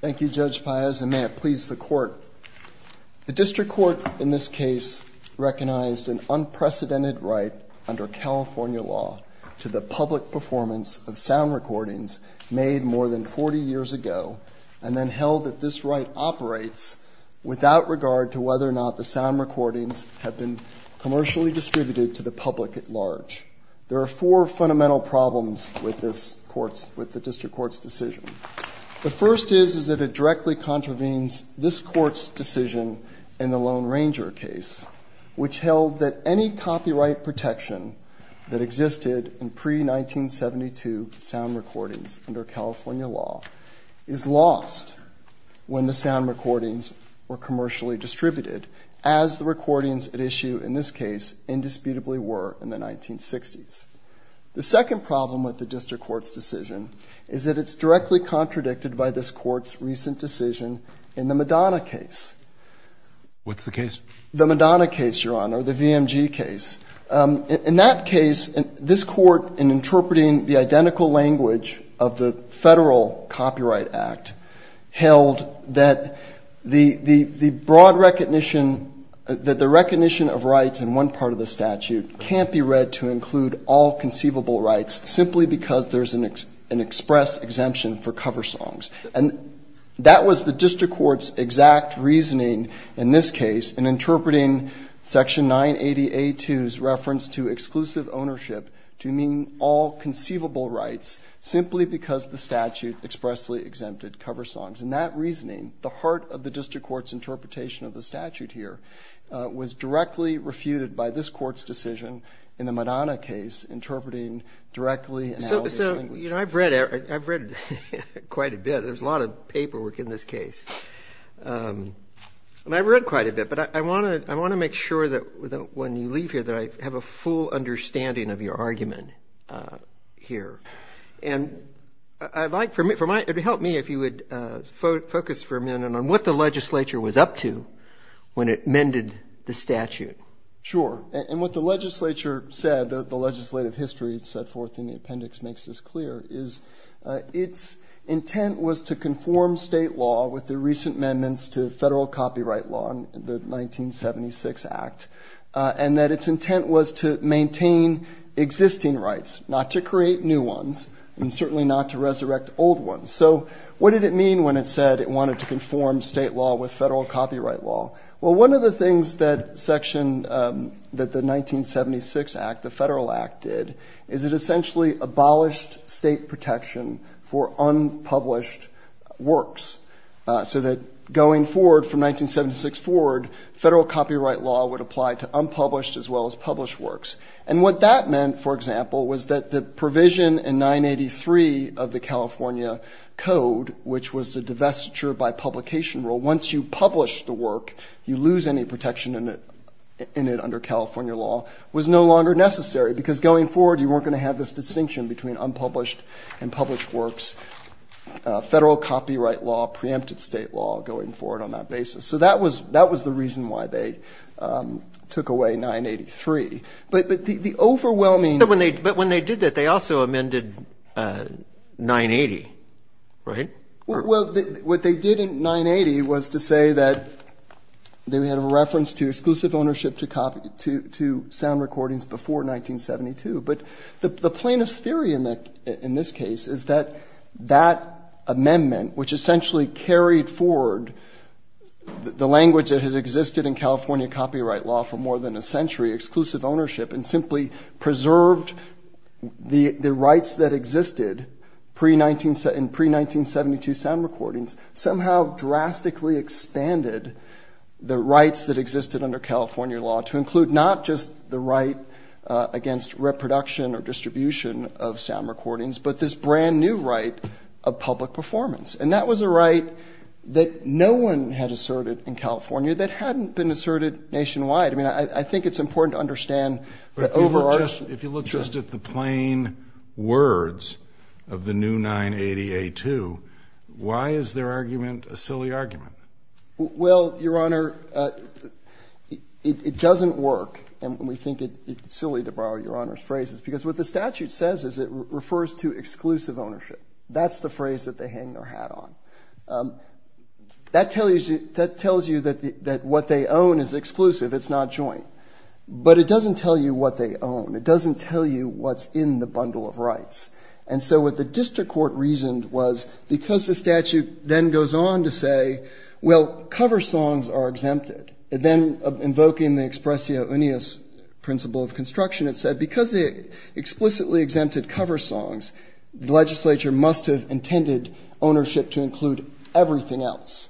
Thank you, Judge Páez, and may it please the Court. The District Court in this case recognized an unprecedented right under California law to the public performance of sound recordings made more than 40 years ago and then held that this right operates without regard to whether or not the sound recordings have been commercially distributed to the public at large. There are four fundamental problems with the District Court's decision. The first is that it directly contravenes this Court's decision in the Lone Ranger case, which held that any copyright protection that existed in pre-1972 sound recordings under California law is lost when the sound recordings were commercially distributed, as the recordings at issue in this case indisputably were in the 1960s. The second problem with the District Court's decision is that it's directly contradicted by this Court's recent decision in the Madonna case. What's the case? The Madonna case, Your Honor, the VMG case. In that case, this Court, in interpreting the identical language of the Federal Copyright Act, held that the broad recognition, that the recognition of rights in one part of the statute can't be read to include all conceivable rights simply because there's an express exemption for cover songs. And that was the District Court's exact reasoning in this case in interpreting Section 980A2's reference to exclusive ownership to mean all conceivable rights simply because the statute expressly exempted cover songs. And that reasoning, the heart of the District Court's interpretation of the statute here, was directly refuted by this Court's decision in the Madonna case, interpreting directly and how this thing... So, you know, I've read, I've read quite a bit. There's a lot of paperwork in this case, and I've read quite a bit. But I want to, I want to make sure that when you leave here that I have a full understanding of your argument here. And I'd like for me, it would help me if you would focus for a minute on what the legislature was up to when it amended the statute. Sure. And what the legislature said, the legislative history set forth in the appendix makes this clear, is its intent was to conform state law with the recent amendments to Federal Copyright Law, the 1976 Act, and that its intent was to maintain existing rights, not to create new ones, and certainly not to resurrect old ones. So what did it mean when it said it wanted to conform state law with Federal Copyright Law? Well, one of the things that section, that the 1976 Act, the Federal Act did, is it essentially abolished state protection for unpublished works, so that going forward from 1976 forward, Federal Copyright Law would apply to unpublished as well as published works. And what that meant, for example, was that the provision in 983 of the California Code, which was the divestiture by publication rule, once you publish the work, you lose any protection in it under California law, was no longer necessary, because going forward you weren't going to have this distinction between unpublished and published works, Federal Copyright Law, preempted state law going forward on that basis. So that was the reason why they took away 983. But the overwhelming... But when they did that, they also amended 980, right? Well, what they did in 980 was to say that they had a reference to exclusive ownership to sound recordings before 1972. But the plaintiff's theory in this case is that that amendment, which essentially carried forward the language that had existed in California Copyright Law for more than a century, exclusive ownership, and simply preserved the rights that existed in pre-1972 sound recordings, somehow drastically expanded the rights that existed under California law to include not just the right against reproduction or distribution of sound recordings, but this brand new right of public performance. And that was a right that no one had asserted in California that hadn't been asserted nationwide. I mean, I think it's important to understand that over... But if you look just at the plain words of the new 980A2, why is their argument a silly argument? Well, Your Honor, it doesn't work. And we think it's silly to borrow Your Honor's phrases, because what the statute says is it refers to exclusive ownership. That's the phrase that they hang their hat on. That tells you that what they own is exclusive. It's not joint. But it doesn't tell you what they own. It doesn't tell you what's in the bundle of rights. And so what the district court reasoned was because the statute then goes on to say, well, cover songs are exempted, then invoking the expressio unius principle of construction, it said because they explicitly exempted cover songs, the legislature must have intended ownership to include everything else,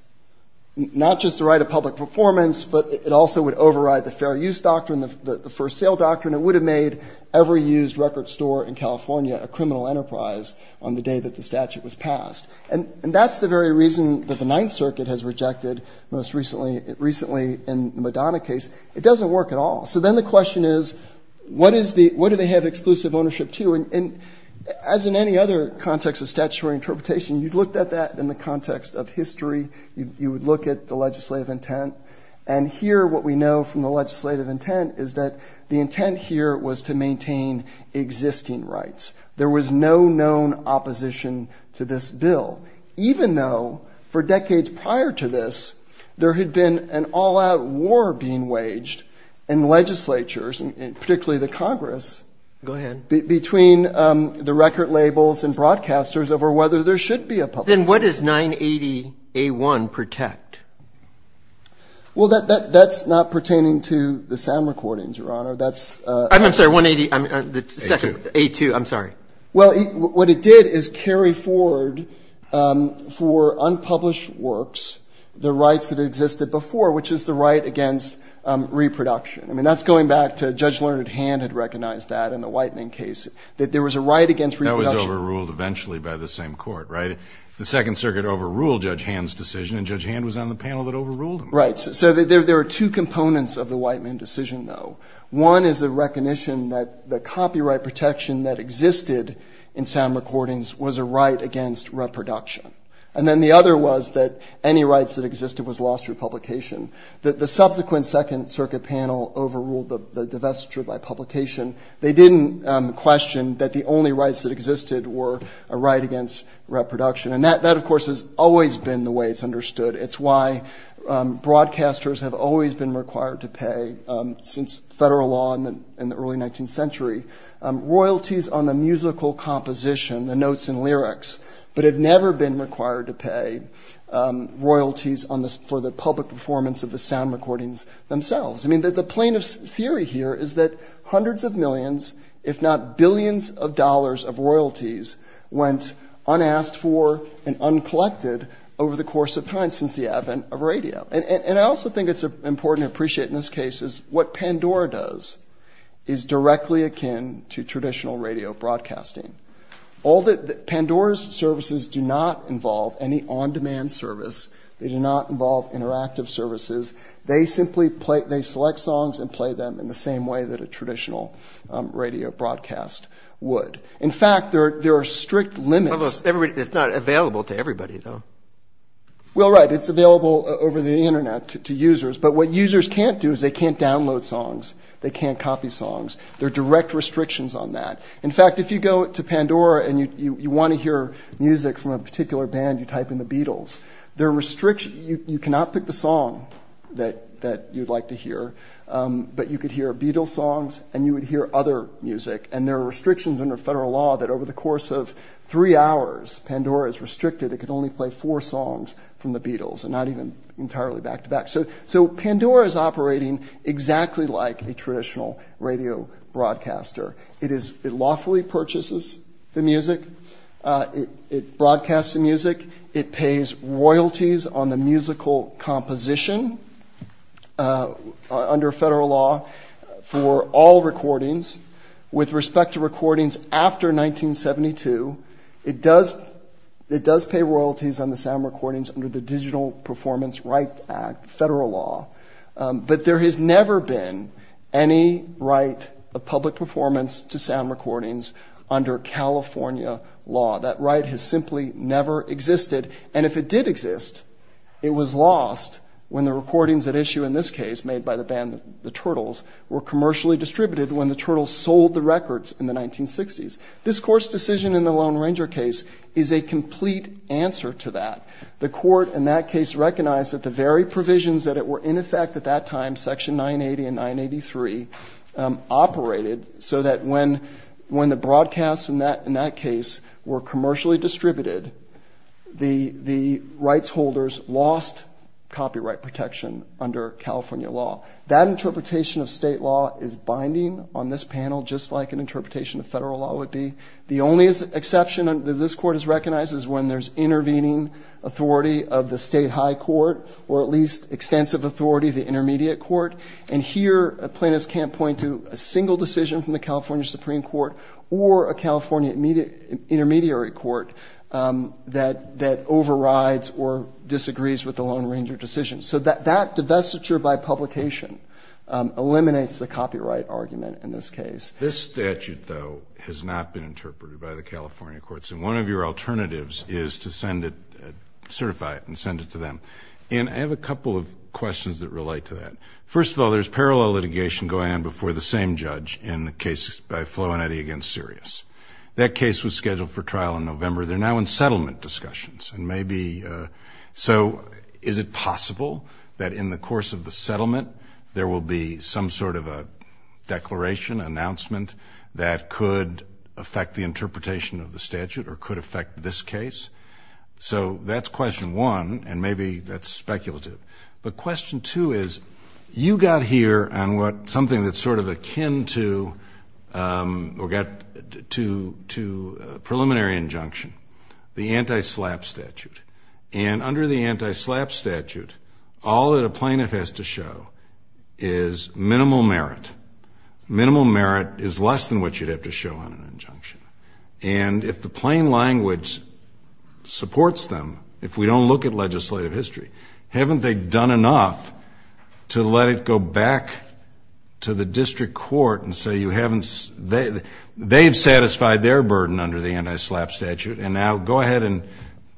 not just the right of public performance, but it also would override the fair use doctrine, the first sale doctrine. It would have made every used record store in California a criminal enterprise on the day that the statute was passed. And that's the very reason that the Ninth Circuit has rejected most recently in the Madonna case. It doesn't work at all. So then the question is, what do they have exclusive ownership to? And as in any other context of statutory interpretation, you'd looked at that in the context of history. You would look at the legislative intent. And here, what we know from the legislative intent is that the intent here was to maintain existing rights. There was no known opposition to this bill, even though for decades prior to this, there had been an all out war being waged in legislatures and particularly the Congress. Go ahead. Between the record labels and broadcasters over whether there should be a public. Then what does 980A1 protect? Well, that's not pertaining to the sound recordings, Your Honor. That's. I'm sorry, 180A2. I'm sorry. Well, what it did is carry forward for unpublished works the rights that existed before, which is the right against reproduction. I mean, that's going back to Judge Leonard Hand had recognized that in the Whitening case, that there was a right against. That was overruled eventually by the same court, right? The Second Circuit overruled Judge Hand's decision and Judge Hand was on the panel that overruled him. Right. So there are two components of the Whitening decision, though. One is a recognition that the copyright protection that existed in sound recordings was a right against reproduction. And then the other was that any rights that existed was lost through publication. That the subsequent Second Circuit panel overruled the divestiture by publication. They didn't question that the only rights that existed were a right against reproduction. And that, of course, has always been the way it's understood. It's why broadcasters have always been required to pay since federal law in the early 19th century royalties on the musical composition, the notes and lyrics, but have never been required to pay royalties for the public performance of the sound recordings themselves. I mean, the plane of theory here is that hundreds of millions, if not billions of dollars of royalties went unasked for and uncollected over the course of time. Since the advent of radio. And I also think it's important to appreciate in this case is what Pandora does is directly akin to traditional radio broadcasting. All that Pandora's services do not involve any on-demand service. They do not involve interactive services. They simply select songs and play them in the same way that a traditional radio broadcast would. In fact, there are strict limits. It's not available to everybody, though. Well, right, it's available over the Internet to users, but what users can't do is they can't download songs. They can't copy songs. There are direct restrictions on that. In fact, if you go to Pandora and you want to hear music from a particular band, you type in the Beatles, there are restrictions. You cannot pick the song that that you'd like to hear, but you could hear a Beatles songs and you would hear other music. And there are restrictions under federal law that over the course of three hours, Pandora is restricted. It can only play four songs from the Beatles and not even entirely back to back. So so Pandora is operating exactly like a traditional radio broadcaster. It is it lawfully purchases the music, it broadcasts the music, it pays royalties on the musical composition under federal law for all recordings. With respect to recordings after 1972, it does it does pay royalties on the sound recordings under the Digital Performance Right Act, federal law. But there has never been any right of public performance to sound recordings under California law. That right has simply never existed. And if it did exist, it was lost when the recordings at issue in this case made by the Turtles were commercially distributed when the Turtles sold the records in the 1960s. This court's decision in the Lone Ranger case is a complete answer to that. The court in that case recognized that the very provisions that it were in effect at that time, Section 980 and 983, operated so that when when the broadcasts in that in that case were commercially distributed, the the rights holders lost copyright protection under California law. That interpretation of state law is binding on this panel, just like an interpretation of federal law would be. The only exception that this court has recognized is when there's intervening authority of the state high court or at least extensive authority of the intermediate court. And here, plaintiffs can't point to a single decision from the California Supreme Court or a California intermediate court that that overrides or disagrees with the Lone Ranger decision. So that divestiture by publication eliminates the copyright argument in this case. This statute, though, has not been interpreted by the California courts. And one of your alternatives is to send it, certify it and send it to them. And I have a couple of questions that relate to that. First of all, there's parallel litigation going on before the same judge in the case by Flo and Eddie against Sirius. That case was scheduled for trial in November. They're now in settlement discussions. And maybe. So is it possible that in the course of the settlement, there will be some sort of a declaration, announcement that could affect the interpretation of the statute or could affect this case? So that's question one. And maybe that's speculative. But question two is you got here and what something that's sort of akin to or get to to preliminary injunction, the anti-SLAPP statute. And under the anti-SLAPP statute, all that a plaintiff has to show is minimal merit. Minimal merit is less than what you'd have to show on an injunction. And if the plain language supports them, if we don't look at legislative history, haven't they done enough to let it go back to the district court and say you haven't they've satisfied their burden under the anti-SLAPP statute. And now go ahead and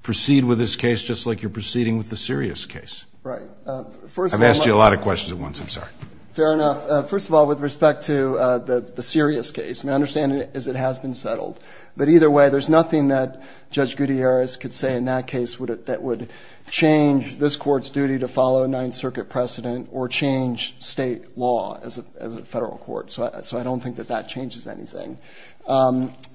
proceed with this case, just like you're proceeding with the Sirius case. I've asked you a lot of questions at once. I'm sorry. Fair enough. First of all, with respect to the Sirius case, my understanding is it has been settled. But either way, there's nothing that Judge Gutierrez could say in that case that would change this court's duty to follow a Ninth Circuit precedent or change state law as a federal court. So I don't think that that changes anything.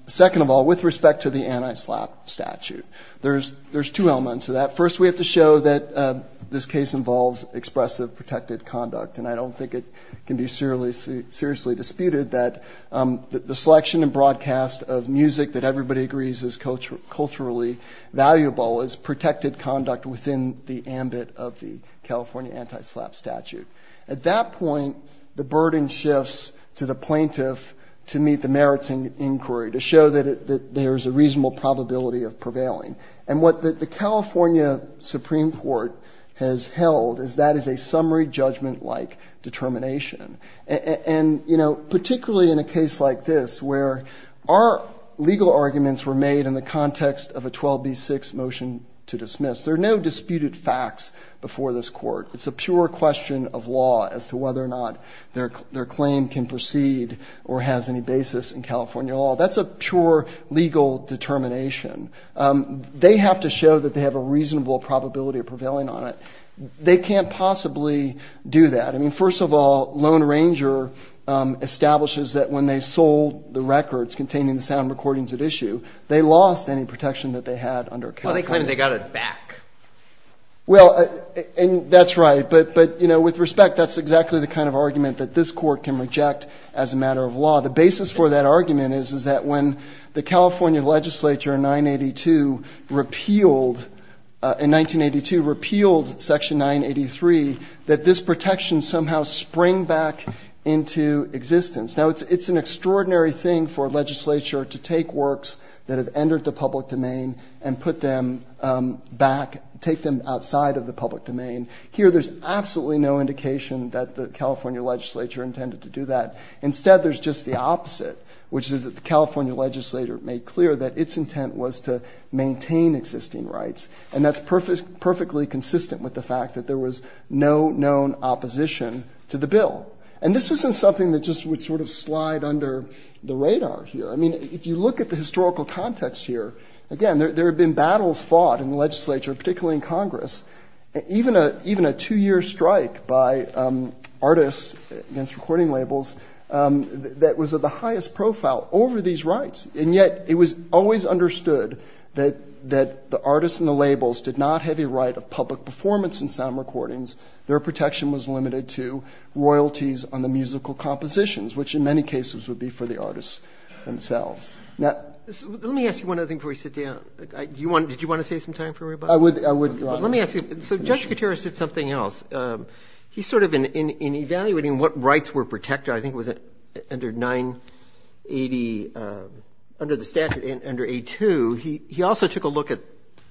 Second of all, with respect to the anti-SLAPP statute, there's two elements of that. First, we have to show that this case involves expressive protected conduct. And I don't think it can be seriously disputed that the selection and broadcast of music that everybody agrees is culturally valuable is protected conduct within the ambit of the California anti-SLAPP statute. At that point, the burden shifts to the plaintiff to meet the merits inquiry, to show that there is a reasonable probability of prevailing. And what the California Supreme Court has held is that is a summary judgment-like determination. And, you know, particularly in a case like this, where our legal arguments were made in the context of a 12b6 motion to dismiss, there are no disputed facts before this court. It's a pure question of law as to whether or not their claim can proceed or has any basis in California law. That's a pure legal determination. They have to show that they have a reasonable probability of prevailing on it. They can't possibly do that. I mean, first of all, Lone Ranger establishes that when they sold the records containing the sound recordings at issue, they lost any protection that they had under California. Well, they claim they got it back. Well, and that's right. But but, you know, with respect, that's exactly the kind of argument that this court can reject as a matter of law. The basis for that argument is, is that when the California legislature in 982 repealed in 1982, repealed Section 983, that this protection somehow sprang back into existence. Now, it's an extraordinary thing for legislature to take works that have entered the take them outside of the public domain. Here, there's absolutely no indication that the California legislature intended to do that. Instead, there's just the opposite, which is that the California legislature made clear that its intent was to maintain existing rights. And that's perfectly consistent with the fact that there was no known opposition to the bill. And this isn't something that just would sort of slide under the radar here. I mean, if you look at the historical context here, again, there have been battles fought in the legislature, particularly in Congress, even a even a two year strike by artists against recording labels that was of the highest profile over these rights. And yet it was always understood that that the artists and the labels did not have a right of public performance and sound recordings. Their protection was limited to royalties on the musical compositions, which in many cases would be for the artists themselves. Now, let me ask you one other thing before we sit down. Do you want did you want to say some time for me? I would. I would. Let me ask you. So Judge Gutierrez did something else. He sort of in evaluating what rights were protected, I think it was under 980 under the statute in under a two. He also took a look at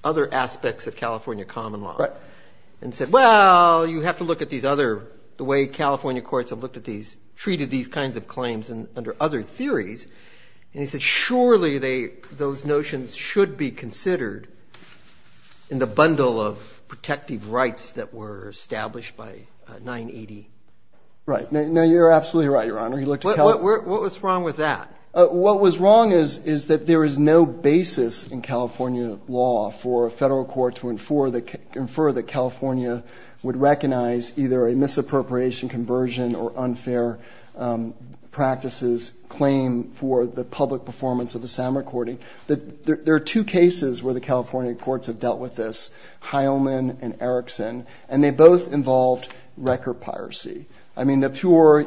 other aspects of California common law and said, well, you have to look at these other the way California courts have looked at these treated these kinds of claims and under other theories. And he said, surely they those notions should be considered in the bundle of protective rights that were established by 980. Right now, you're absolutely right, Your Honor. You look what was wrong with that. What was wrong is, is that there is no basis in California law for a federal court to infer that California would recognize either a misappropriation, conversion or unfair practices claim for the public performance of the sound recording that there are two cases where the California courts have dealt with this, Heilman and Erickson, and they both involved record piracy. I mean, the pure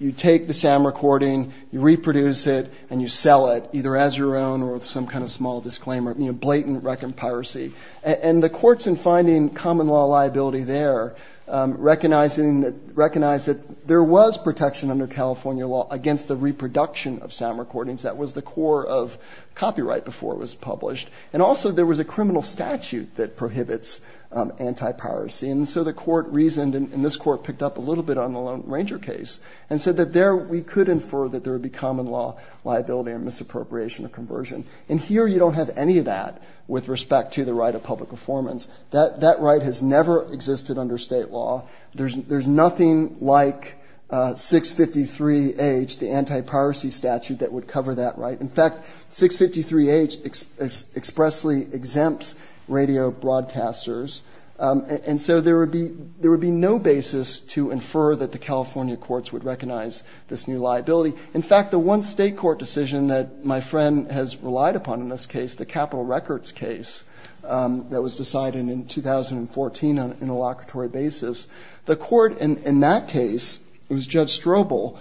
you take the sound recording, you reproduce it and you sell it either as your own or some kind of small disclaimer, blatant record piracy. And the courts in finding common law liability there recognizing that recognize that there was protection under California law against the reproduction of sound recordings. That was the core of copyright before it was published. And also there was a criminal statute that prohibits anti-piracy. And so the court reasoned and this court picked up a little bit on the Lone Ranger case and said that there we could infer that there would be common law liability or misappropriation or conversion. And here you don't have any of that with respect to the right of public performance. That right has never existed under state law. There's nothing like 653H, the anti-piracy statute that would cover that right. In fact, 653H expressly exempts radio broadcasters. And so there would be there would be no basis to infer that the California courts would recognize this new liability. In fact, the one state court decision that my friend has relied upon in this case, the 2014 interlocutory basis, the court in that case, it was Judge Strobel,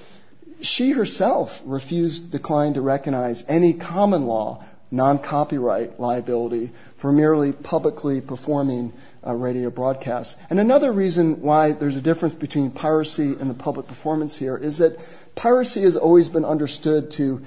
she herself refused declined to recognize any common law non-copyright liability for merely publicly performing radio broadcasts. And another reason why there's a difference between piracy and the public performance here is that piracy has always been understood to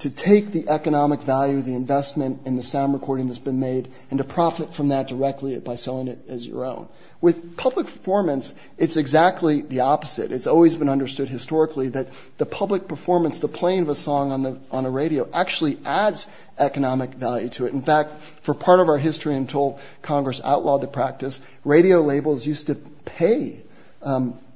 to take the economic value of the investment in the sound recording that's been made and to profit from that directly by selling it as your own. With public performance, it's exactly the opposite. It's always been understood historically that the public performance, the playing of a song on the on a radio actually adds economic value to it. In fact, for part of our history, until Congress outlawed the practice, radio labels used to pay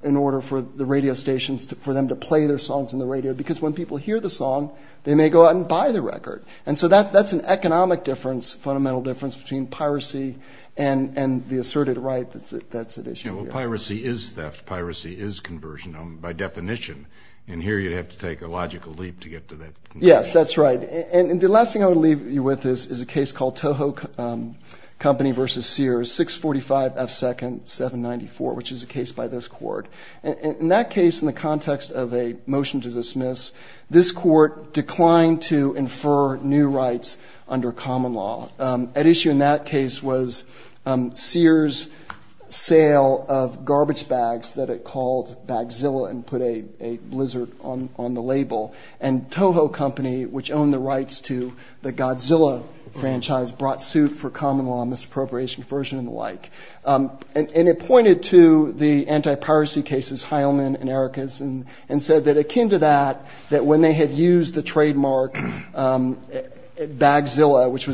in order for the radio stations for them to play their songs on the radio, because when people hear the song, they may go out and buy the record. And so that's an economic difference, fundamental difference between piracy and the asserted right that's at issue. Well, piracy is theft. Piracy is conversion by definition. And here you'd have to take a logical leap to get to that. Yes, that's right. And the last thing I would leave you with is a case called Toho Company v. Sears, 645 F. 2nd, 794, which is a case by this court. In that case, in the context of a motion to dismiss, this court declined to infer new rights under common law. At issue in that case was Sears' sale of garbage bags that it called Bagzilla and put a blizzard on the label. And Toho Company, which owned the rights to the Godzilla franchise, brought suit for common law, misappropriation, conversion and the like. And it pointed to the anti-piracy cases Heilman and Erickson and said that akin to that, that when they had used the trademark Bagzilla, which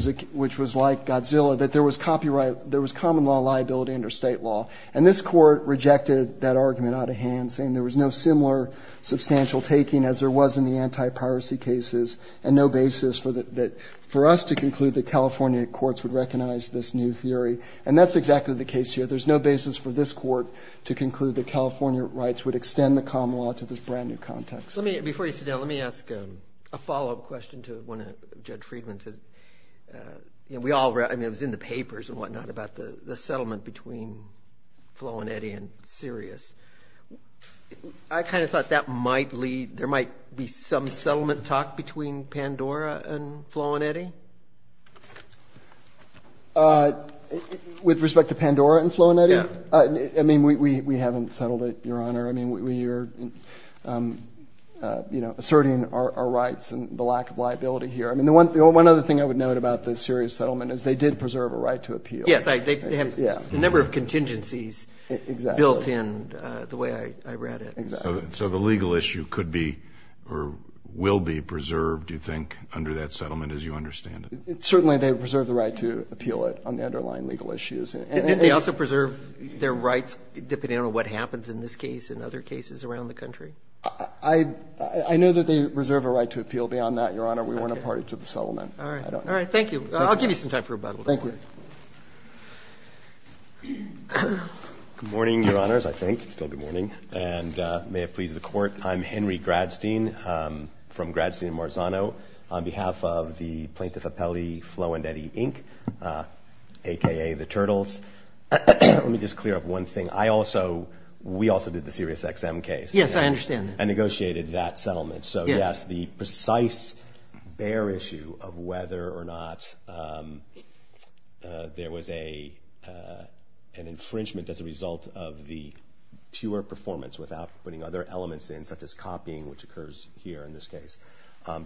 was like Godzilla, that there was copyright, there was common law liability under state law. And this court rejected that argument out of hand, saying there was no similar substantial taking as there was in the anti-piracy cases and no basis for us to conclude that California courts would recognize this new theory. And that's exactly the case here. There's no basis for this court to conclude that California rights would extend the common law to this brand new context. Let me, before you sit down, let me ask a follow up question to one of Judge Friedman's. You know, we all, I mean, it was in the papers and whatnot about the settlement between Flo and Eddie and Sears. I kind of thought that might lead, there might be some settlement talk between Pandora and Flo and Eddie. With respect to Pandora and Flo and Eddie, I mean, we haven't settled it, Your Honor. I mean, we are, you know, asserting our rights and the lack of liability here. I mean, the one, the one other thing I would note about the Sears settlement is they did preserve a right to appeal. Yes, they have a number of contingencies built in the way I read it. Exactly. So the legal issue could be or will be preserved, do you think, under that settlement, as you understand it? Certainly, they preserve the right to appeal it on the underlying legal issues. And they also preserve their rights depending on what happens in this case and other cases around the country. I know that they reserve a right to appeal. Beyond that, Your Honor, we weren't a party to the settlement. All right. All right. Thank you. I'll give you some time for rebuttal. Thank you. Good morning, Your Honors, I think. It's still good morning. And may it please the Court, I'm Henry Gradstein from Gradstein and Marzano. On behalf of the Plaintiff Appellee, Flo and Eddie Inc., aka the Turtles, let me just clear up one thing. I also, we also did the Sirius XM case. Yes, I understand that. And negotiated that settlement. So, yes, the precise bear issue of whether or not there was an infringement as a result of the pure performance without putting other elements in, such as copying, which occurs here in this case,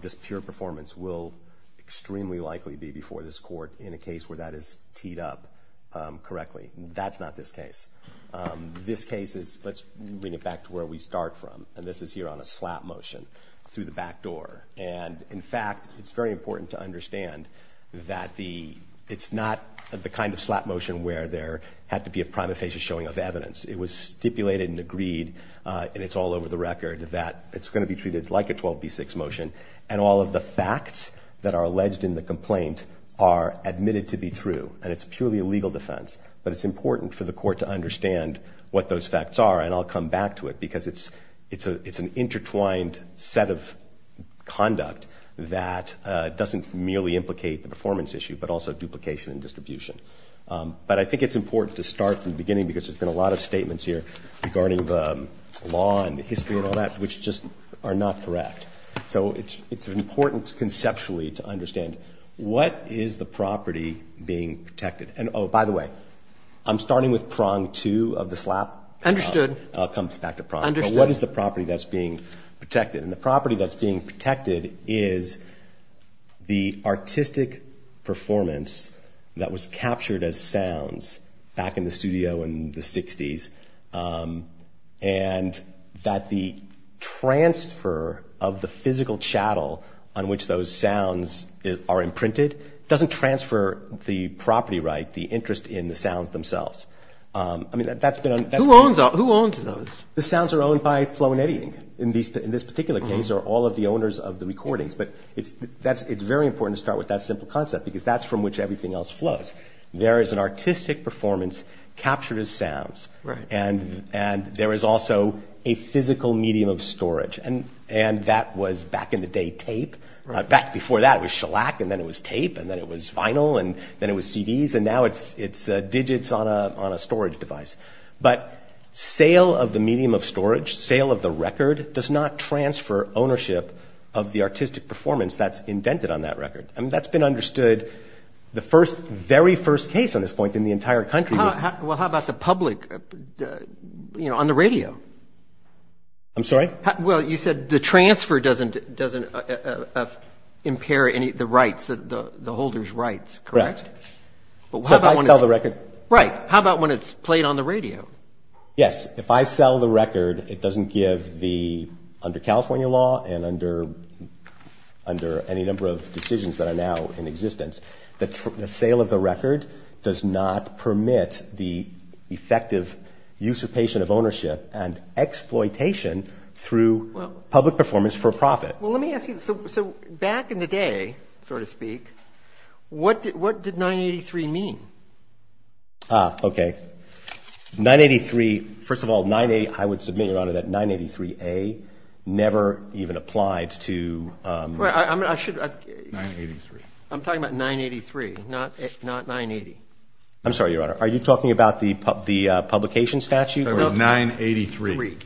this pure performance will extremely likely be before this court in a case where that is teed up correctly. That's not this case. This case is, let's bring it back to where we start from, and this is here on a slap motion through the back door. And, in fact, it's very important to understand that it's not the kind of slap motion where there had to be a prima facie showing of evidence. It was stipulated and agreed, and it's all over the record, that it's going to be treated like a 12B6 motion, and all of the facts that are alleged in the complaint are admitted to be true, and it's purely a legal defense. But it's important for the court to understand what those facts are, and I'll come back to it, because it's an intertwined set of conduct that doesn't merely implicate the performance issue, but also duplication and distribution. But I think it's important to start from the beginning, because there's been a lot of statements here regarding the law and the history and all that, which just are not correct. So it's important, conceptually, to understand what is the property being protected. And oh, by the way, I'm starting with prong two of the slap. Understood. I'll come back to prong. Understood. But what is the property that's being protected? And the property that's being protected is the artistic performance that was captured as sounds back in the studio in the 60s, and that the transfer of the physical chattel on which those sounds are imprinted doesn't transfer the property right, the interest in the sounds themselves. I mean, that's been on... Who owns those? The sounds are owned by Flo and Eddie, in this particular case, are all of the owners of the recordings. But it's very important to start with that simple concept, because that's from which everything else flows. There is an artistic performance captured as sounds, and there is also a physical medium of storage. And that was, back in the day, tape. Back before that, it was shellac, and then it was tape, and then it was vinyl, and then it was CDs, and now it's digits on a storage device. But sale of the medium of storage, sale of the record, does not transfer ownership of the artistic performance that's indented on that record. I mean, that's been understood, the first, very first case on this point in the entire country was... Well, how about the public, you know, on the radio? I'm sorry? Well, you said the transfer doesn't impair any of the rights, the holder's rights, correct? Correct. But how about when it's... So if I sell the record... Right. How about when it's played on the radio? Yes. If I sell the record, it doesn't give the, under California law, and under any number of decisions that are now in existence, that the sale of the record does not permit the effective usurpation of ownership and exploitation through public performance for profit. Well, let me ask you, so back in the day, so to speak, what did 983 mean? Ah, okay. 983, first of all, 98, I would submit, Your Honor, that 983A never even applied to... Well, I should... 983. I'm talking about 983, not 980. I'm sorry, Your Honor, are you talking about the publication statute? No, 983,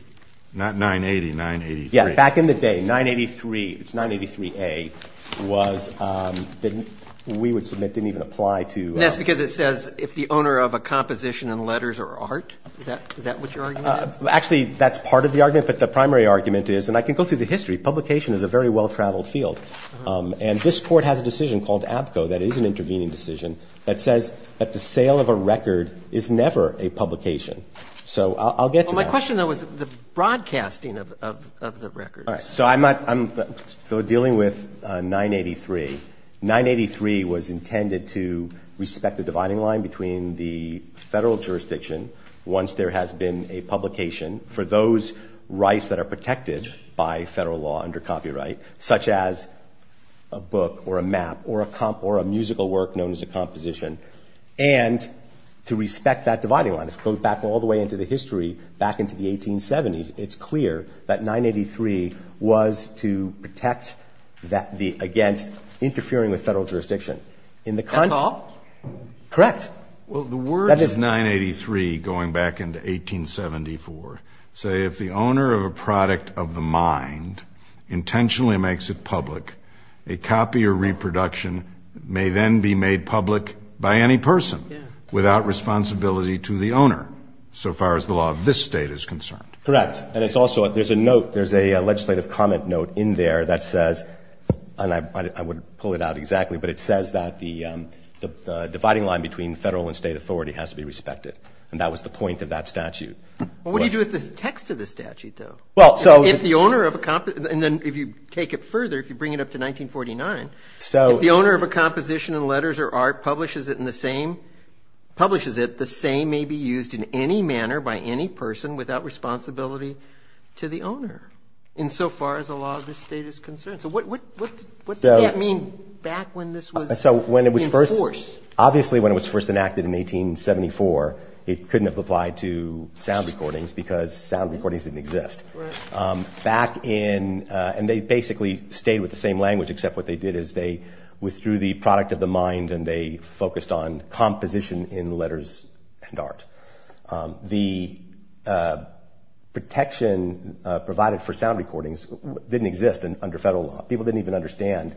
not 980, 983. Yeah, back in the day, 983, it's 983A, was, we would submit, didn't even apply to... Yes, because it says, if the owner of a composition and letters are art, is that what your argument is? Actually, that's part of the argument, but the primary argument is, and I can go through the history, publication is a very well-traveled field. And this Court has a decision called ABCO that is an intervening decision that says that the sale of a record is never a publication. So I'll get to that. Well, my question, though, is the broadcasting of the records. All right. So I'm dealing with 983. 983 was intended to respect the dividing line between the Federal jurisdiction once there has been a publication for those rights that are protected by Federal law under copyright, such as a book or a map or a musical work known as a composition, and to respect that dividing line. If you go back all the way into the history, back into the 1870s, it's clear that 983 was to protect against interfering with Federal jurisdiction. That's all? Correct. Well, the words 983 going back into 1874 say, if the owner of a product of the mind intentionally makes it public, a copy or reproduction may then be made public by any person without responsibility to the owner, so far as the law of this State is concerned. Correct. And it's also, there's a note, there's a legislative comment note in there that says, and I wouldn't pull it out exactly, but it says that the dividing line between Federal and State authority has to be respected. And that was the point of that statute. What do you do with the text of the statute, though? Well, so if the owner of a, and then if you take it further, if you bring it up to 1949, if the owner of a composition in letters or art publishes it in the same, publishes it, the same may be used in any manner by any person without responsibility to the owner, in so far as the law of this State is concerned. So what did that mean back when this was in force? So when it was first, obviously when it was first enacted in 1874, it couldn't have applied to sound recordings because sound recordings didn't exist. Right. Back in, and they basically stayed with the same language except what they did is they withdrew the product of the mind and they focused on composition in letters and art. The protection provided for sound recordings didn't exist under Federal law. People didn't even understand,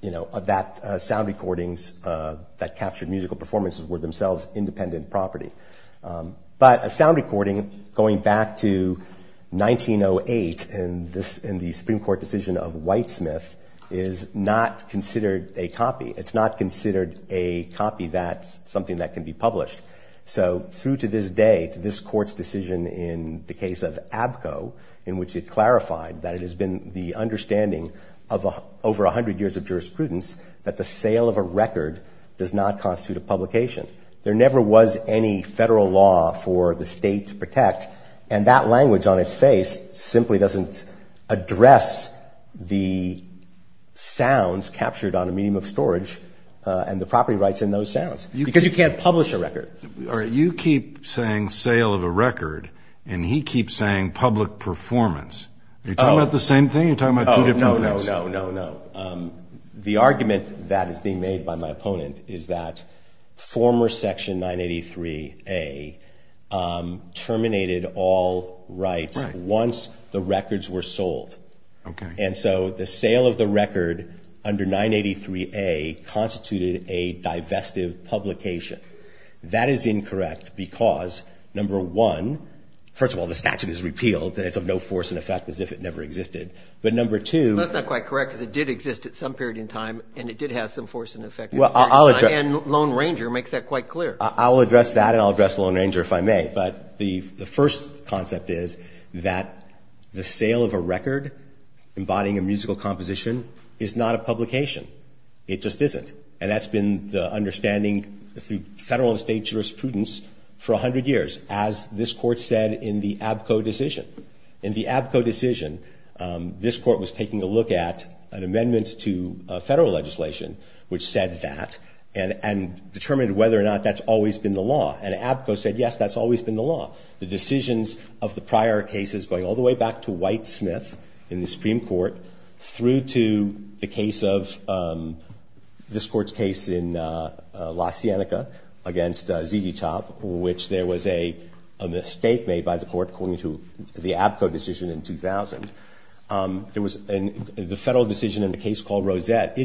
you know, that sound recordings that captured musical performances were themselves independent property. But a sound recording going back to 1908 in the Supreme Court decision of Whitesmith is not considered a copy. It's not considered a copy that's something that can be published. So through to this day, to this Court's decision in the case of Abko, in which it clarified that it has been the understanding of over 100 years of jurisprudence that the sale of a record does not constitute a publication. There never was any Federal law for the State to protect, and that language on its face simply doesn't address the sounds captured on a medium of storage and the property rights in those sounds. Because you can't publish a record. All right, you keep saying sale of a record, and he keeps saying public performance. Are you talking about the same thing or are you talking about two different things? No, no, no, no, no. The argument that is being made by my opponent is that former Section 983A terminated all rights once the records were sold. Okay. And so the sale of the record under 983A constituted a divestive publication. That is incorrect because, number one, first of all, the statute is repealed, and it's of no force and effect as if it never existed. But number two. That's not quite correct because it did exist at some period in time, and it did have some force and effect. And Lone Ranger makes that quite clear. I'll address that and I'll address Lone Ranger if I may. But the first concept is that the sale of a record embodying a musical composition is not a publication. It just isn't. And that's been the understanding through federal and state jurisprudence for 100 years, as this Court said in the Abko decision. In the Abko decision, this Court was taking a look at an amendment to federal legislation which said that and determined whether or not that's always been the law. And Abko said, yes, that's always been the law. The decisions of the prior cases going all the way back to Whitesmith in the Supreme Court through to the case of this Court's case in La Cienega against Zdzislaw, which there was a mistake made by the Court according to the Abko decision in 2000. There was the federal decision in a case called Rosette.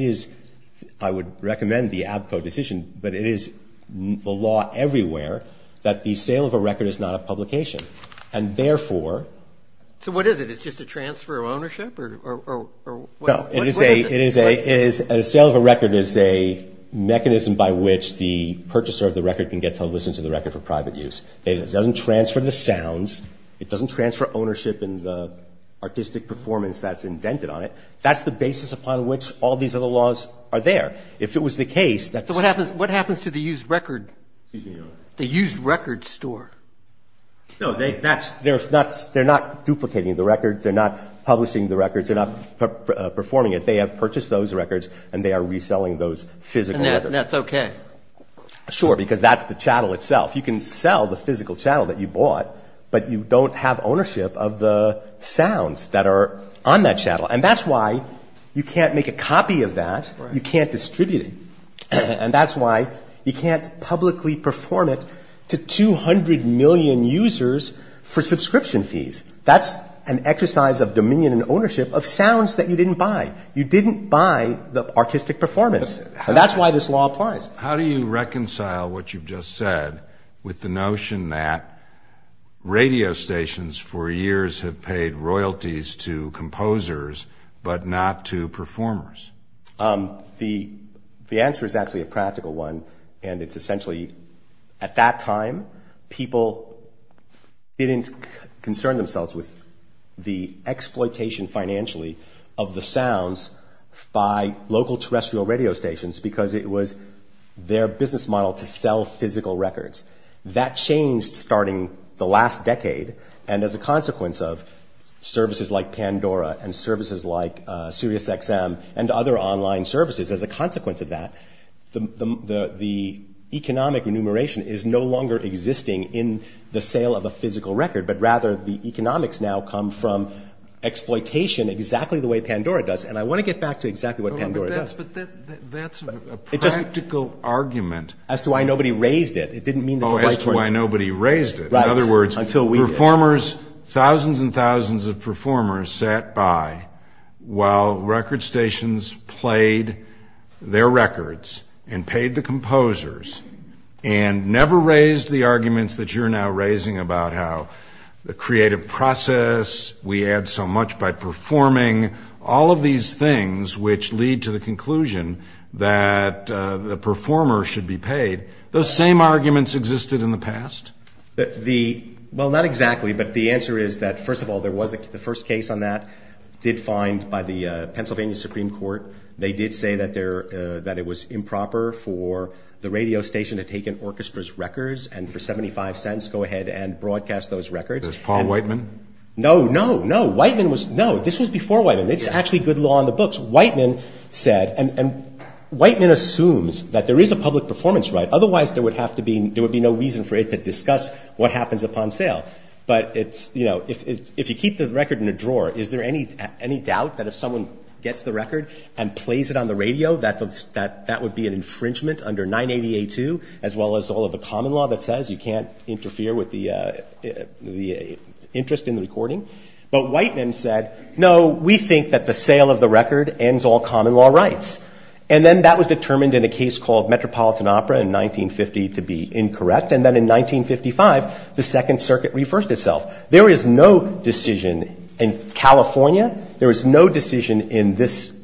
I would recommend the Abko decision. But it is the law everywhere that the sale of a record is not a publication. And, therefore, So what is it? It's just a transfer of ownership? No. A sale of a record is a mechanism by which the purchaser of the record can get to listen to the record for private use. It doesn't transfer the sounds. It doesn't transfer ownership in the artistic performance that's indented on it. That's the basis upon which all these other laws are there. If it was the case that So what happens to the used record store? No, they're not duplicating the record. They're not publishing the records. They're not performing it. They have purchased those records, and they are reselling those physical records. And that's okay? Sure, because that's the chattel itself. You can sell the physical chattel that you bought, but you don't have ownership of the sounds that are on that chattel. And that's why you can't make a copy of that. You can't distribute it. And that's why you can't publicly perform it to 200 million users for subscription fees. That's an exercise of dominion and ownership of sounds that you didn't buy. You didn't buy the artistic performance. And that's why this law applies. How do you reconcile what you've just said with the notion that radio stations for years have paid royalties to composers but not to performers? The answer is actually a practical one, and it's essentially at that time people didn't concern themselves with the exploitation financially of the sounds by local terrestrial radio stations because it was their business model to sell physical records. That changed starting the last decade, and as a consequence of services like Pandora and services like SiriusXM and other online services, as a consequence of that, the economic remuneration is no longer existing in the sale of a physical record, but rather the economics now come from exploitation exactly the way Pandora does. And I want to get back to exactly what Pandora does. Yes, but that's a practical argument. As to why nobody raised it. Oh, as to why nobody raised it. In other words, performers, thousands and thousands of performers sat by while record stations played their records and paid the composers and never raised the arguments that you're now raising about how the creative process, we add so much by performing, all of these things which lead to the conclusion that the performer should be paid. Those same arguments existed in the past? Well, not exactly, but the answer is that, first of all, the first case on that did find by the Pennsylvania Supreme Court, they did say that it was improper for the radio station to take an orchestra's records and for 75 cents go ahead and broadcast those records. This Paul Whiteman? No, no, no. Whiteman was, no, this was before Whiteman. It's actually good law in the books. Whiteman said, and Whiteman assumes that there is a public performance right. Otherwise there would have to be, there would be no reason for it to discuss what happens upon sale. But it's, you know, if you keep the record in a drawer, is there any doubt that if someone gets the record and plays it on the radio that that would be an infringement under 980A2, as well as all of the common law that says you can't interfere with the interest in the recording? But Whiteman said, no, we think that the sale of the record ends all common law rights. And then that was determined in a case called Metropolitan Opera in 1950 to be incorrect. And then in 1955, the Second Circuit reversed itself. There is no decision in California, there is no decision in this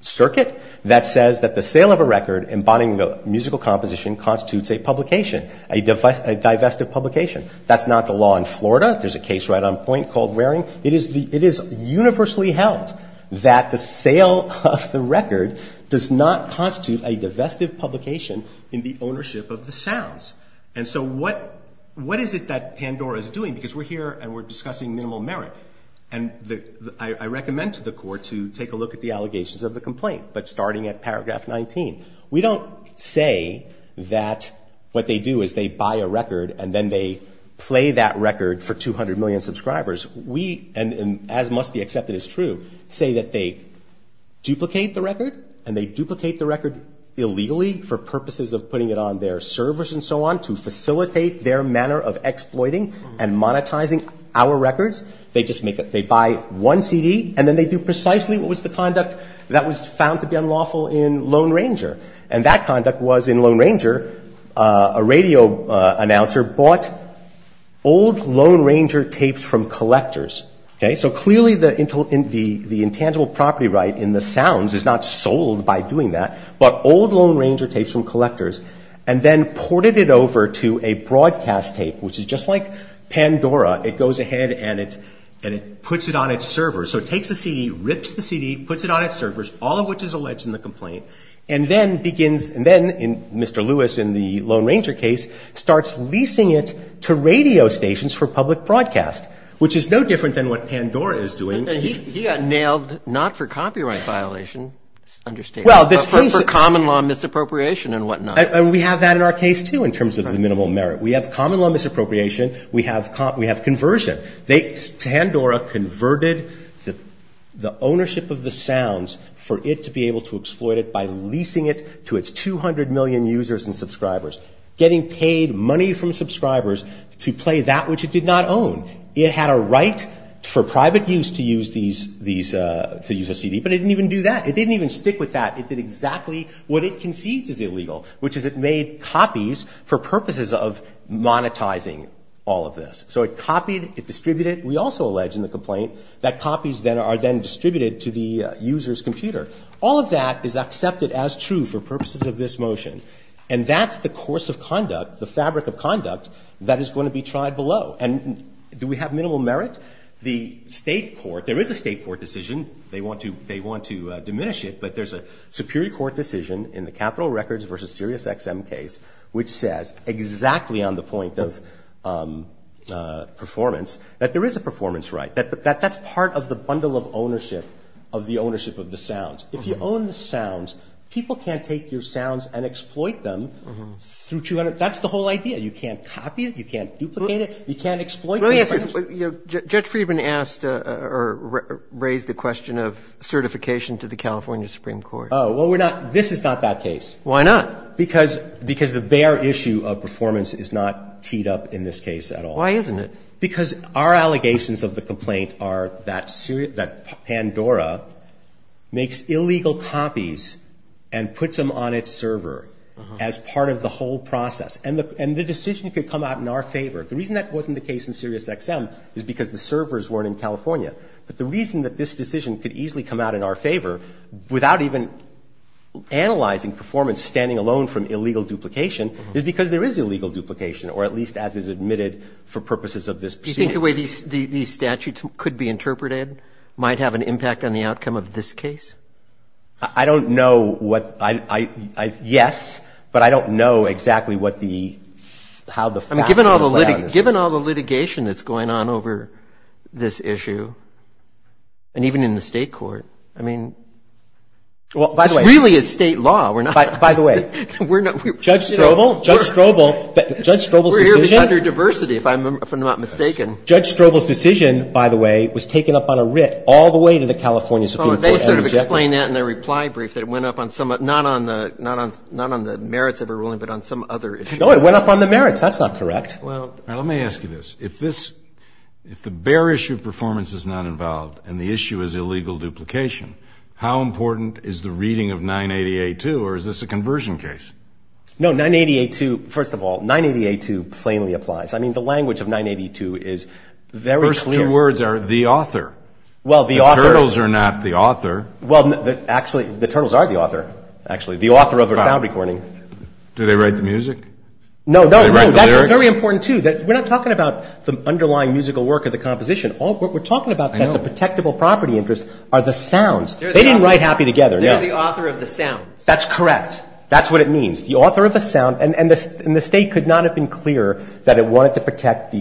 circuit, that says that the sale of a record embodying a musical composition constitutes a publication, a divestive publication. That's not the law in Florida. There's a case right on point called Waring. It is universally held that the sale of the record does not constitute a divestive publication in the ownership of the sounds. And so what is it that Pandora is doing? Because we're here and we're discussing minimal merit. And I recommend to the court to take a look at the allegations of the complaint. But starting at paragraph 19, we don't say that what they do is they buy a record and then they play that record for 200 million subscribers. We, as must be accepted as true, say that they duplicate the record and they duplicate the record illegally for purposes of putting it on their servers and so on to facilitate their manner of exploiting and monetizing our records. They buy one CD and then they do precisely what was the conduct that was found to be unlawful in Lone Ranger. And that conduct was, in Lone Ranger, a radio announcer bought old Lone Ranger tapes from collectors. So clearly the intangible property right in the sounds is not sold by doing that, but old Lone Ranger tapes from collectors, and then ported it over to a broadcast tape, which is just like Pandora. It goes ahead and it puts it on its servers. So it takes the CD, rips the CD, puts it on its servers, all of which is alleged in the complaint, and then begins, and then Mr. Lewis in the Lone Ranger case starts leasing it to radio stations for public broadcast, which is no different than what Pandora is doing. And he got nailed not for copyright violation, understandably, but for common law misappropriation and whatnot. And we have that in our case, too, in terms of the minimal merit. We have common law misappropriation. We have conversion. Pandora converted the ownership of the sounds for it to be able to exploit it by leasing it to its 200 million users and subscribers, getting paid money from subscribers to play that which it did not own. It had a right for private use to use a CD, but it didn't even do that. It didn't even stick with that. It did exactly what it conceived as illegal, which is it made copies for purposes of monetizing all of this. So it copied, it distributed. We also allege in the complaint that copies are then distributed to the user's computer. All of that is accepted as true for purposes of this motion, and that's the course of conduct, the fabric of conduct that is going to be tried below. And do we have minimal merit? The state court, there is a state court decision. They want to diminish it, but there's a superior court decision in the Capitol Records versus SiriusXM case which says exactly on the point of performance that there is a performance right. That's part of the bundle of ownership of the ownership of the sounds. If you own the sounds, people can't take your sounds and exploit them through 200 That's the whole idea. You can't copy it. You can't duplicate it. You can't exploit it. Let me ask you something. Judge Friedman asked or raised the question of certification to the California Supreme Court. Oh, well, we're not. This is not that case. Why not? Because the bare issue of performance is not teed up in this case at all. Why isn't it? Because our allegations of the complaint are that Pandora makes illegal copies and puts them on its server as part of the whole process. And the decision could come out in our favor. The reason that wasn't the case in SiriusXM is because the servers weren't in California. But the reason that this decision could easily come out in our favor without even analyzing performance standing alone from illegal duplication is because there is illegal duplication or at least as is admitted for purposes of this proceeding. Do you think the way these statutes could be interpreted might have an impact on the outcome of this case? I don't know what I yes, but I don't know exactly what the how the facts are. Given all the litigation that's going on over this issue and even in the state court, I mean, it's really a state law. By the way, Judge Strobel, Judge Strobel, Judge Strobel's decision. Gender diversity, if I'm not mistaken. Judge Strobel's decision, by the way, was taken up on a writ all the way to the California Supreme Court. They sort of explained that in their reply brief that it went up on some, not on the merits of a ruling, but on some other issue. No, it went up on the merits. That's not correct. Well, let me ask you this. If this, if the bare issue of performance is not involved and the issue is illegal duplication, how important is the reading of 988-2 or is this a conversion case? No, 988-2, first of all, 988-2 plainly applies. I mean, the language of 988-2 is very clear. The first two words are the author. Well, the author. The turtles are not the author. Well, actually, the turtles are the author, actually, the author of a sound recording. Do they write the music? No, no. Do they write the lyrics? That's very important, too. We're not talking about the underlying musical work of the composition. What we're talking about that's a protectable property interest are the sounds. They didn't write Happy Together, no. They're the author of the sounds. That's correct. That's what it means, the author of a sound. And the State could not have been clearer that it wanted to protect the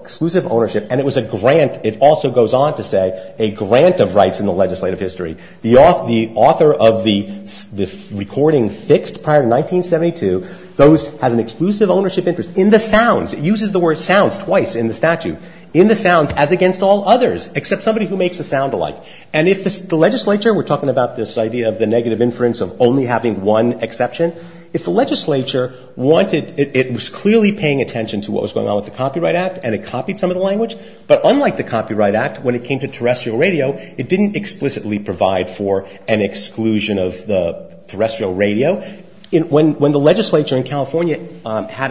exclusive ownership, and it was a grant, it also goes on to say, a grant of rights in the legislative history. The author of the recording fixed prior to 1972 has an exclusive ownership interest in the sounds. It uses the word sounds twice in the statute. In the sounds, as against all others, except somebody who makes a sound alike. And if the legislature, we're talking about this idea of the negative inference of only having one exception. If the legislature wanted, it was clearly paying attention to what was going on with the Copyright Act, and it copied some of the language. But unlike the Copyright Act, when it came to terrestrial radio, it didn't explicitly provide for an exclusion of the terrestrial radio. When the legislature in California had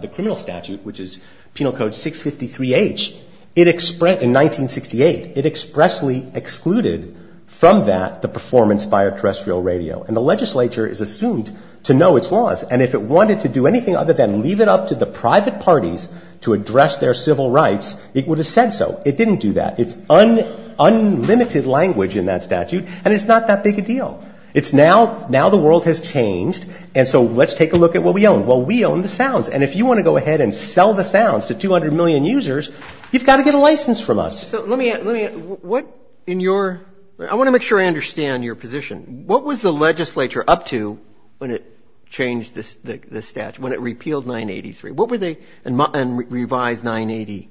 the criminal statute, which is Penal Code 653H, in 1968, it expressly excluded from that the performance by a terrestrial radio. And the legislature is assumed to know its laws. And if it wanted to do anything other than leave it up to the private parties to address their civil rights, it would have said so. It didn't do that. It's unlimited language in that statute, and it's not that big a deal. It's now, now the world has changed, and so let's take a look at what we own. Well, we own the sounds. And if you want to go ahead and sell the sounds to 200 million users, you've got to get a license from us. So let me, let me, what in your, I want to make sure I understand your position. What was the legislature up to when it changed the statute, when it repealed 983? What were they, and revised 980,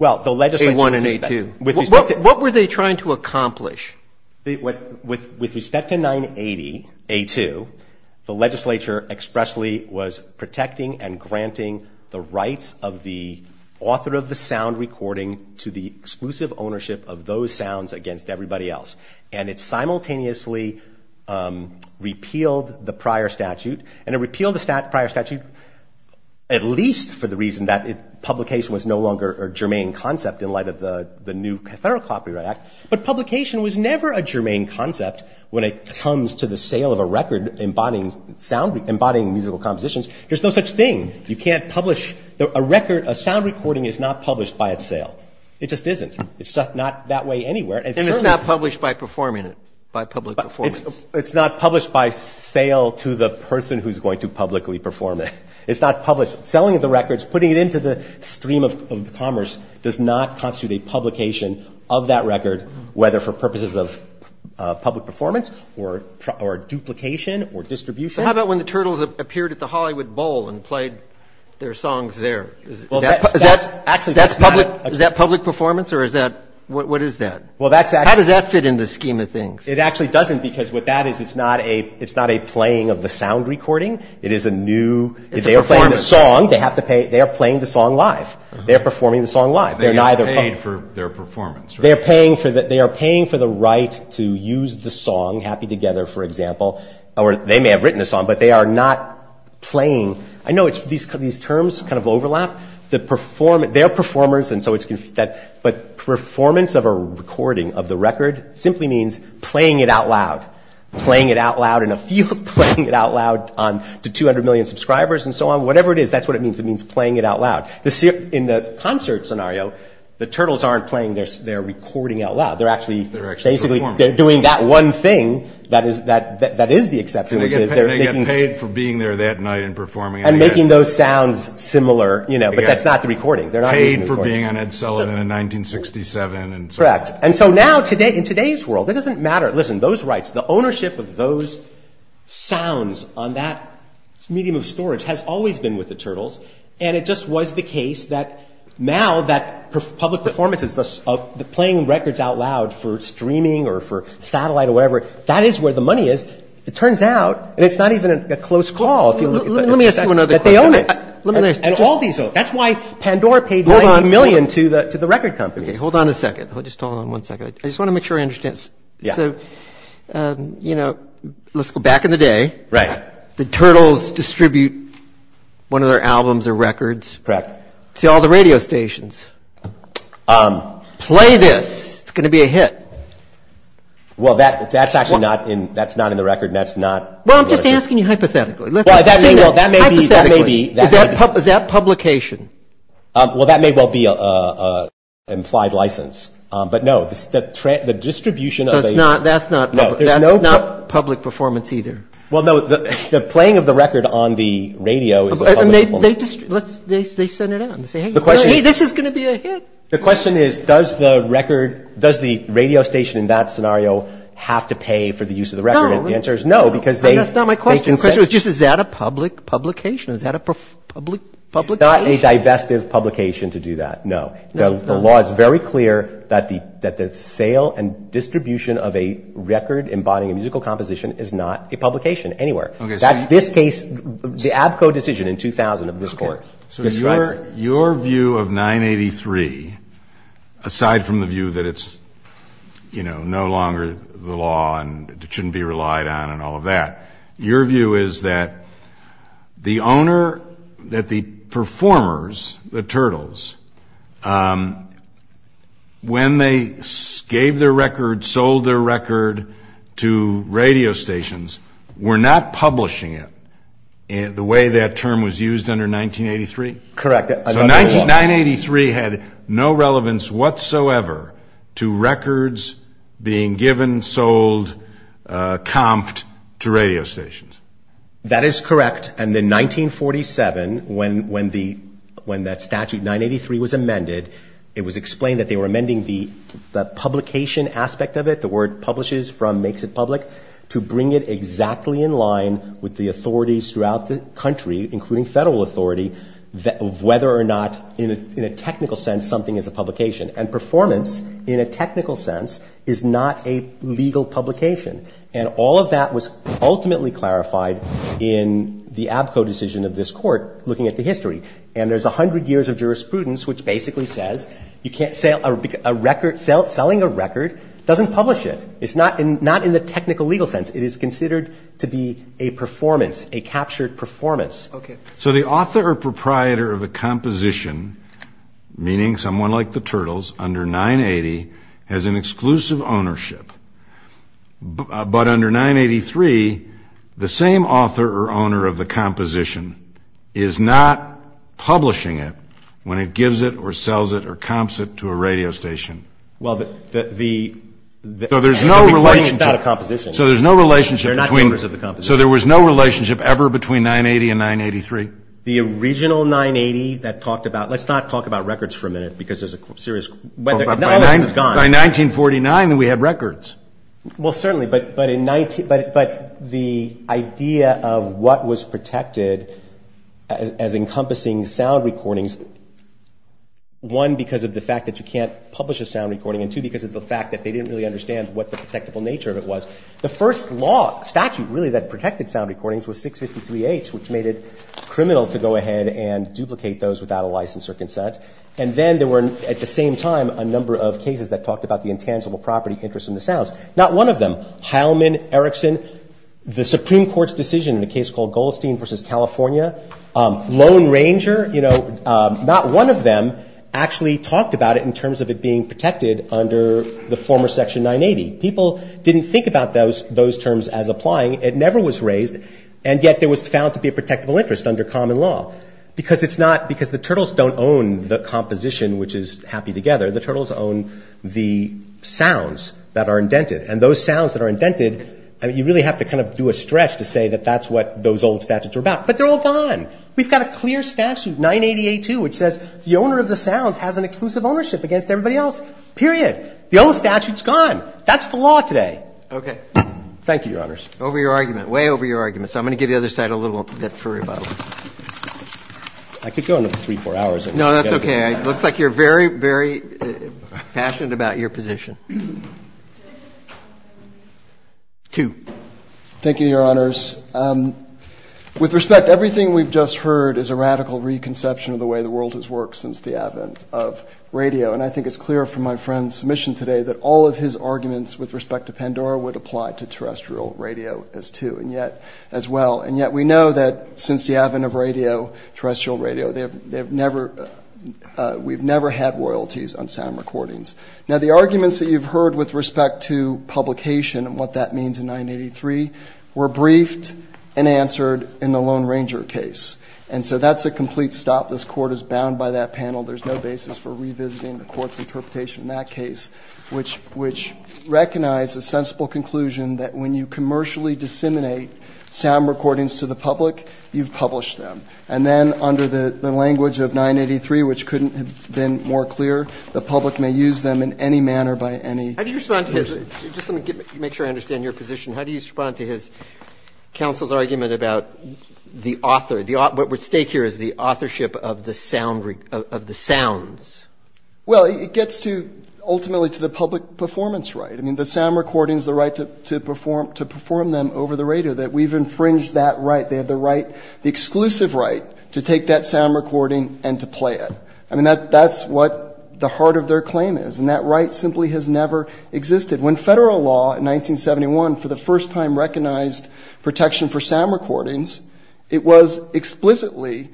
A1 and A2? What were they trying to accomplish? With respect to 980, A2, the legislature expressly was protecting and granting the rights of the author of the sound recording to the exclusive ownership of those sounds against everybody else. And it simultaneously repealed the prior statute. And it repealed the prior statute at least for the reason that publication was no longer a germane concept in light of the new federal copyright act. But publication was never a germane concept when it comes to the sale of a record embodying sound, embodying musical compositions. There's no such thing. You can't publish a record, a sound recording is not published by its sale. It just isn't. It's not that way anywhere. And it's not published by performing it, by public performance. It's not published by sale to the person who's going to publicly perform it. It's not published. Selling the records, putting it into the stream of commerce does not constitute a publication of that record, whether for purposes of public performance or duplication or distribution. How about when the Turtles appeared at the Hollywood Bowl and played their songs there? Is that public performance or is that, what is that? How does that fit in the scheme of things? It actually doesn't because what that is, it's not a playing of the sound recording. It is a new. It's a performance. They are playing the song. They have to pay. They are playing the song live. They are performing the song live. They are paid for their performance, right? They are paying for the right to use the song, Happy Together, for example. Or they may have written the song, but they are not playing. I know these terms kind of overlap. They are performers, but performance of a recording of the record simply means playing it out loud, playing it out loud in a field, playing it out loud to 200 million subscribers and so on. Whatever it is, that's what it means. It means playing it out loud. In the concert scenario, the Turtles aren't playing. They are recording out loud. They are doing that one thing that is the exception. They get paid for being there that night and performing. And making those sounds similar, but that's not the recording. They are not using the recording. Paid for being on Ed Sullivan in 1967. Correct. And so now in today's world, it doesn't matter. Listen, those rights, the ownership of those sounds on that medium of storage has always been with the Turtles. And it just was the case that now that public performances, the playing records out loud for streaming or for satellite or whatever, that is where the money is. It turns out, and it's not even a close call. Let me ask you another question. That they own it. And all these own it. That's why Pandora paid 90 million to the record companies. Hold on a second. Just hold on one second. I just want to make sure I understand. So, you know, let's go back in the day. Right. The Turtles distribute one of their albums or records. Correct. To all the radio stations. Play this. It's going to be a hit. Well, that's actually not in the record. That's not. Well, I'm just asking you hypothetically. Well, that may be. Hypothetically. That may be. Is that publication? Well, that may well be an implied license. But no. The distribution of a. That's not. That's not. No. There's no. That's not public performance either. Well, no. The playing of the record on the radio is a public performance. And they send it out and say, hey, this is going to be a hit. The question is, does the record, does the radio station in that scenario have to pay for the use of the record? No. And the answer is no. And that's not my question. The question was just, is that a public publication? Is that a public publication? It's not a divestive publication to do that. No. No, it's not. The law is very clear that the sale and distribution of a record embodying a musical composition is not a publication anywhere. That's this case, the Abko decision in 2000 of this Court. Okay. So your view of 983, aside from the view that it's, you know, no longer the law and it shouldn't be relied on and all of that, your view is that the owner, that the performers, the Turtles, when they gave their record, sold their record to radio stations, were not publishing it the way that term was used under 1983? Correct. So 983 had no relevance whatsoever to records being given, sold, comped to radio stations. That is correct. And in 1947, when that statute, 983, was amended, it was explained that they were amending the publication aspect of it, the word publishes from makes it public, to bring it exactly in line with the authorities throughout the country, including federal authority, whether or not, in a technical sense, something is a publication. And performance, in a technical sense, is not a legal publication. And all of that was ultimately clarified in the Abko decision of this Court, looking at the history. And there's 100 years of jurisprudence, which basically says you can't sell a record. Selling a record doesn't publish it. It's not in the technical legal sense. It is considered to be a performance, a captured performance. Okay. So the author or proprietor of a composition, meaning someone like the Turtles, under 980, has an exclusive ownership. But under 983, the same author or owner of the composition is not publishing it when it gives it or sells it or comps it to a radio station. Well, the recording is not a composition. So there's no relationship. They're not owners of the composition. So there was no relationship ever between 980 and 983? The original 980 that talked about ‑‑ let's not talk about records for a minute, because there's a serious ‑‑ By 1949, we had records. Well, certainly, but the idea of what was protected as encompassing sound recordings, one, because of the fact that you can't publish a sound recording, and two, because of the fact that they didn't really understand what the protectable nature of it was. So the first law, statute, really, that protected sound recordings was 653H, which made it criminal to go ahead and duplicate those without a license or consent. And then there were, at the same time, a number of cases that talked about the intangible property interest in the sounds. Not one of them, Heilman, Erickson, the Supreme Court's decision in a case called Goldstein v. California, Lone Ranger, not one of them actually talked about it in terms of it being protected under the former section 980. People didn't think about those terms as applying. It never was raised, and yet it was found to be a protectable interest under common law. Because it's not ‑‑ because the Turtles don't own the composition, which is happy together. The Turtles own the sounds that are indented. And those sounds that are indented, you really have to kind of do a stretch to say that that's what those old statutes were about. But they're all gone. We've got a clear statute, 980A2, which says the owner of the sounds has an exclusive ownership against everybody else. Period. The old statute's gone. That's the law today. Okay. Thank you, Your Honors. Over your argument. Way over your argument. So I'm going to give the other side a little bit for rebuttal. I could go another three, four hours. No, that's okay. It looks like you're very, very passionate about your position. Two. Thank you, Your Honors. With respect, everything we've just heard is a radical reconception of the way the world has worked since the advent of radio. And I think it's clear from my friend's submission today that all of his arguments with respect to Pandora would apply to terrestrial radio as well. And yet we know that since the advent of radio, terrestrial radio, we've never had royalties on sound recordings. Now, the arguments that you've heard with respect to publication and what that means in 983 were briefed and answered in the Lone Ranger case. And so that's a complete stop. This Court is bound by that panel. There's no basis for revisiting the Court's interpretation in that case, which recognized a sensible conclusion that when you commercially disseminate sound recordings to the public, you've published them. And then under the language of 983, which couldn't have been more clear, the public may use them in any manner by any person. How do you respond to his ‑‑ just let me make sure I understand your position. How do you respond to his ‑‑ counsel's argument about the author, what would stake here as the authorship of the sounds? Well, it gets to, ultimately, to the public performance right. I mean, the sound recording is the right to perform them over the radio, that we've infringed that right. They have the right, the exclusive right, to take that sound recording and to play it. I mean, that's what the heart of their claim is. And that right simply has never existed. When federal law in 1971, for the first time, recognized protection for sound recordings, it was explicitly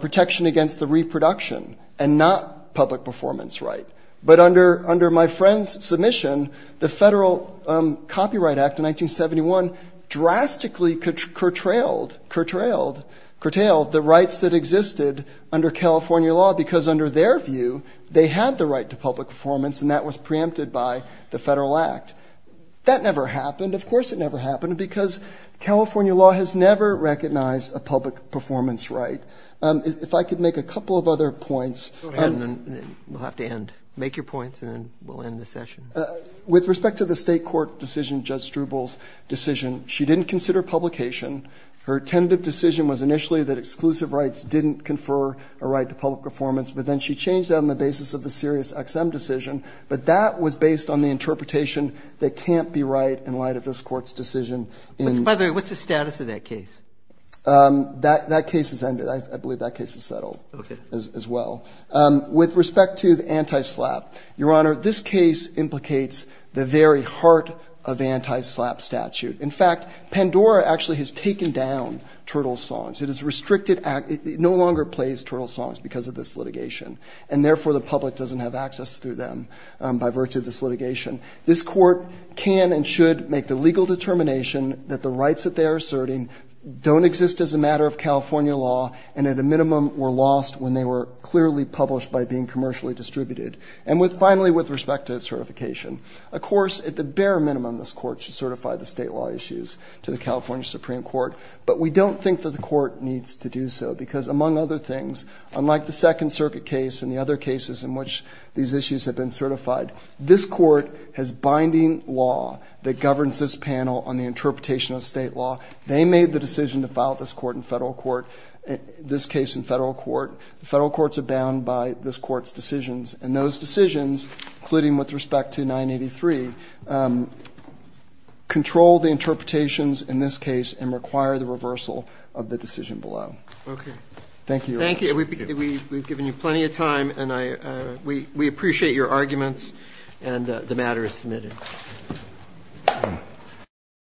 protection against the reproduction and not public performance right. But under my friend's submission, the Federal Copyright Act of 1971 drastically curtailed the rights that existed under California law, because under their view, they had the right to public performance, and that was preempted by the Federal Act. That never happened. Of course it never happened, because California law has never recognized a public performance right. If I could make a couple of other points. Go ahead, and then we'll have to end. Make your points, and then we'll end the session. With respect to the state court decision, Judge Strubel's decision, she didn't consider publication. Her tentative decision was initially that exclusive rights didn't confer a right to public performance, but then she changed that on the basis of the SiriusXM decision. But that was based on the interpretation that can't be right in light of this Court's decision. By the way, what's the status of that case? That case has ended. I believe that case has settled as well. With respect to the anti-SLAPP, Your Honor, this case implicates the very heart of the anti-SLAPP statute. In fact, Pandora actually has taken down Turtle Songs. It is restricted act. It no longer plays Turtle Songs because of this litigation, and therefore the public doesn't have access to them by virtue of this litigation. This Court can and should make the legal determination that the rights that they are asserting don't exist as a matter of California law, and at a minimum were lost when they were clearly published by being commercially distributed. And finally, with respect to certification, of course at the bare minimum this Court should certify the state law issues to the California Supreme Court, but we don't think that the Court needs to do so because, among other things, unlike the Second Circuit case and the other cases in which these issues have been certified, this Court has binding law that governs this panel on the interpretation of state law. They made the decision to file this case in federal court. The federal courts are bound by this Court's decisions, and those decisions, including with respect to 983, control the interpretations in this case and require the reversal of the decision below. Thank you, Your Honor. Thank you. We've given you plenty of time, and we appreciate your arguments, and the matter is submitted.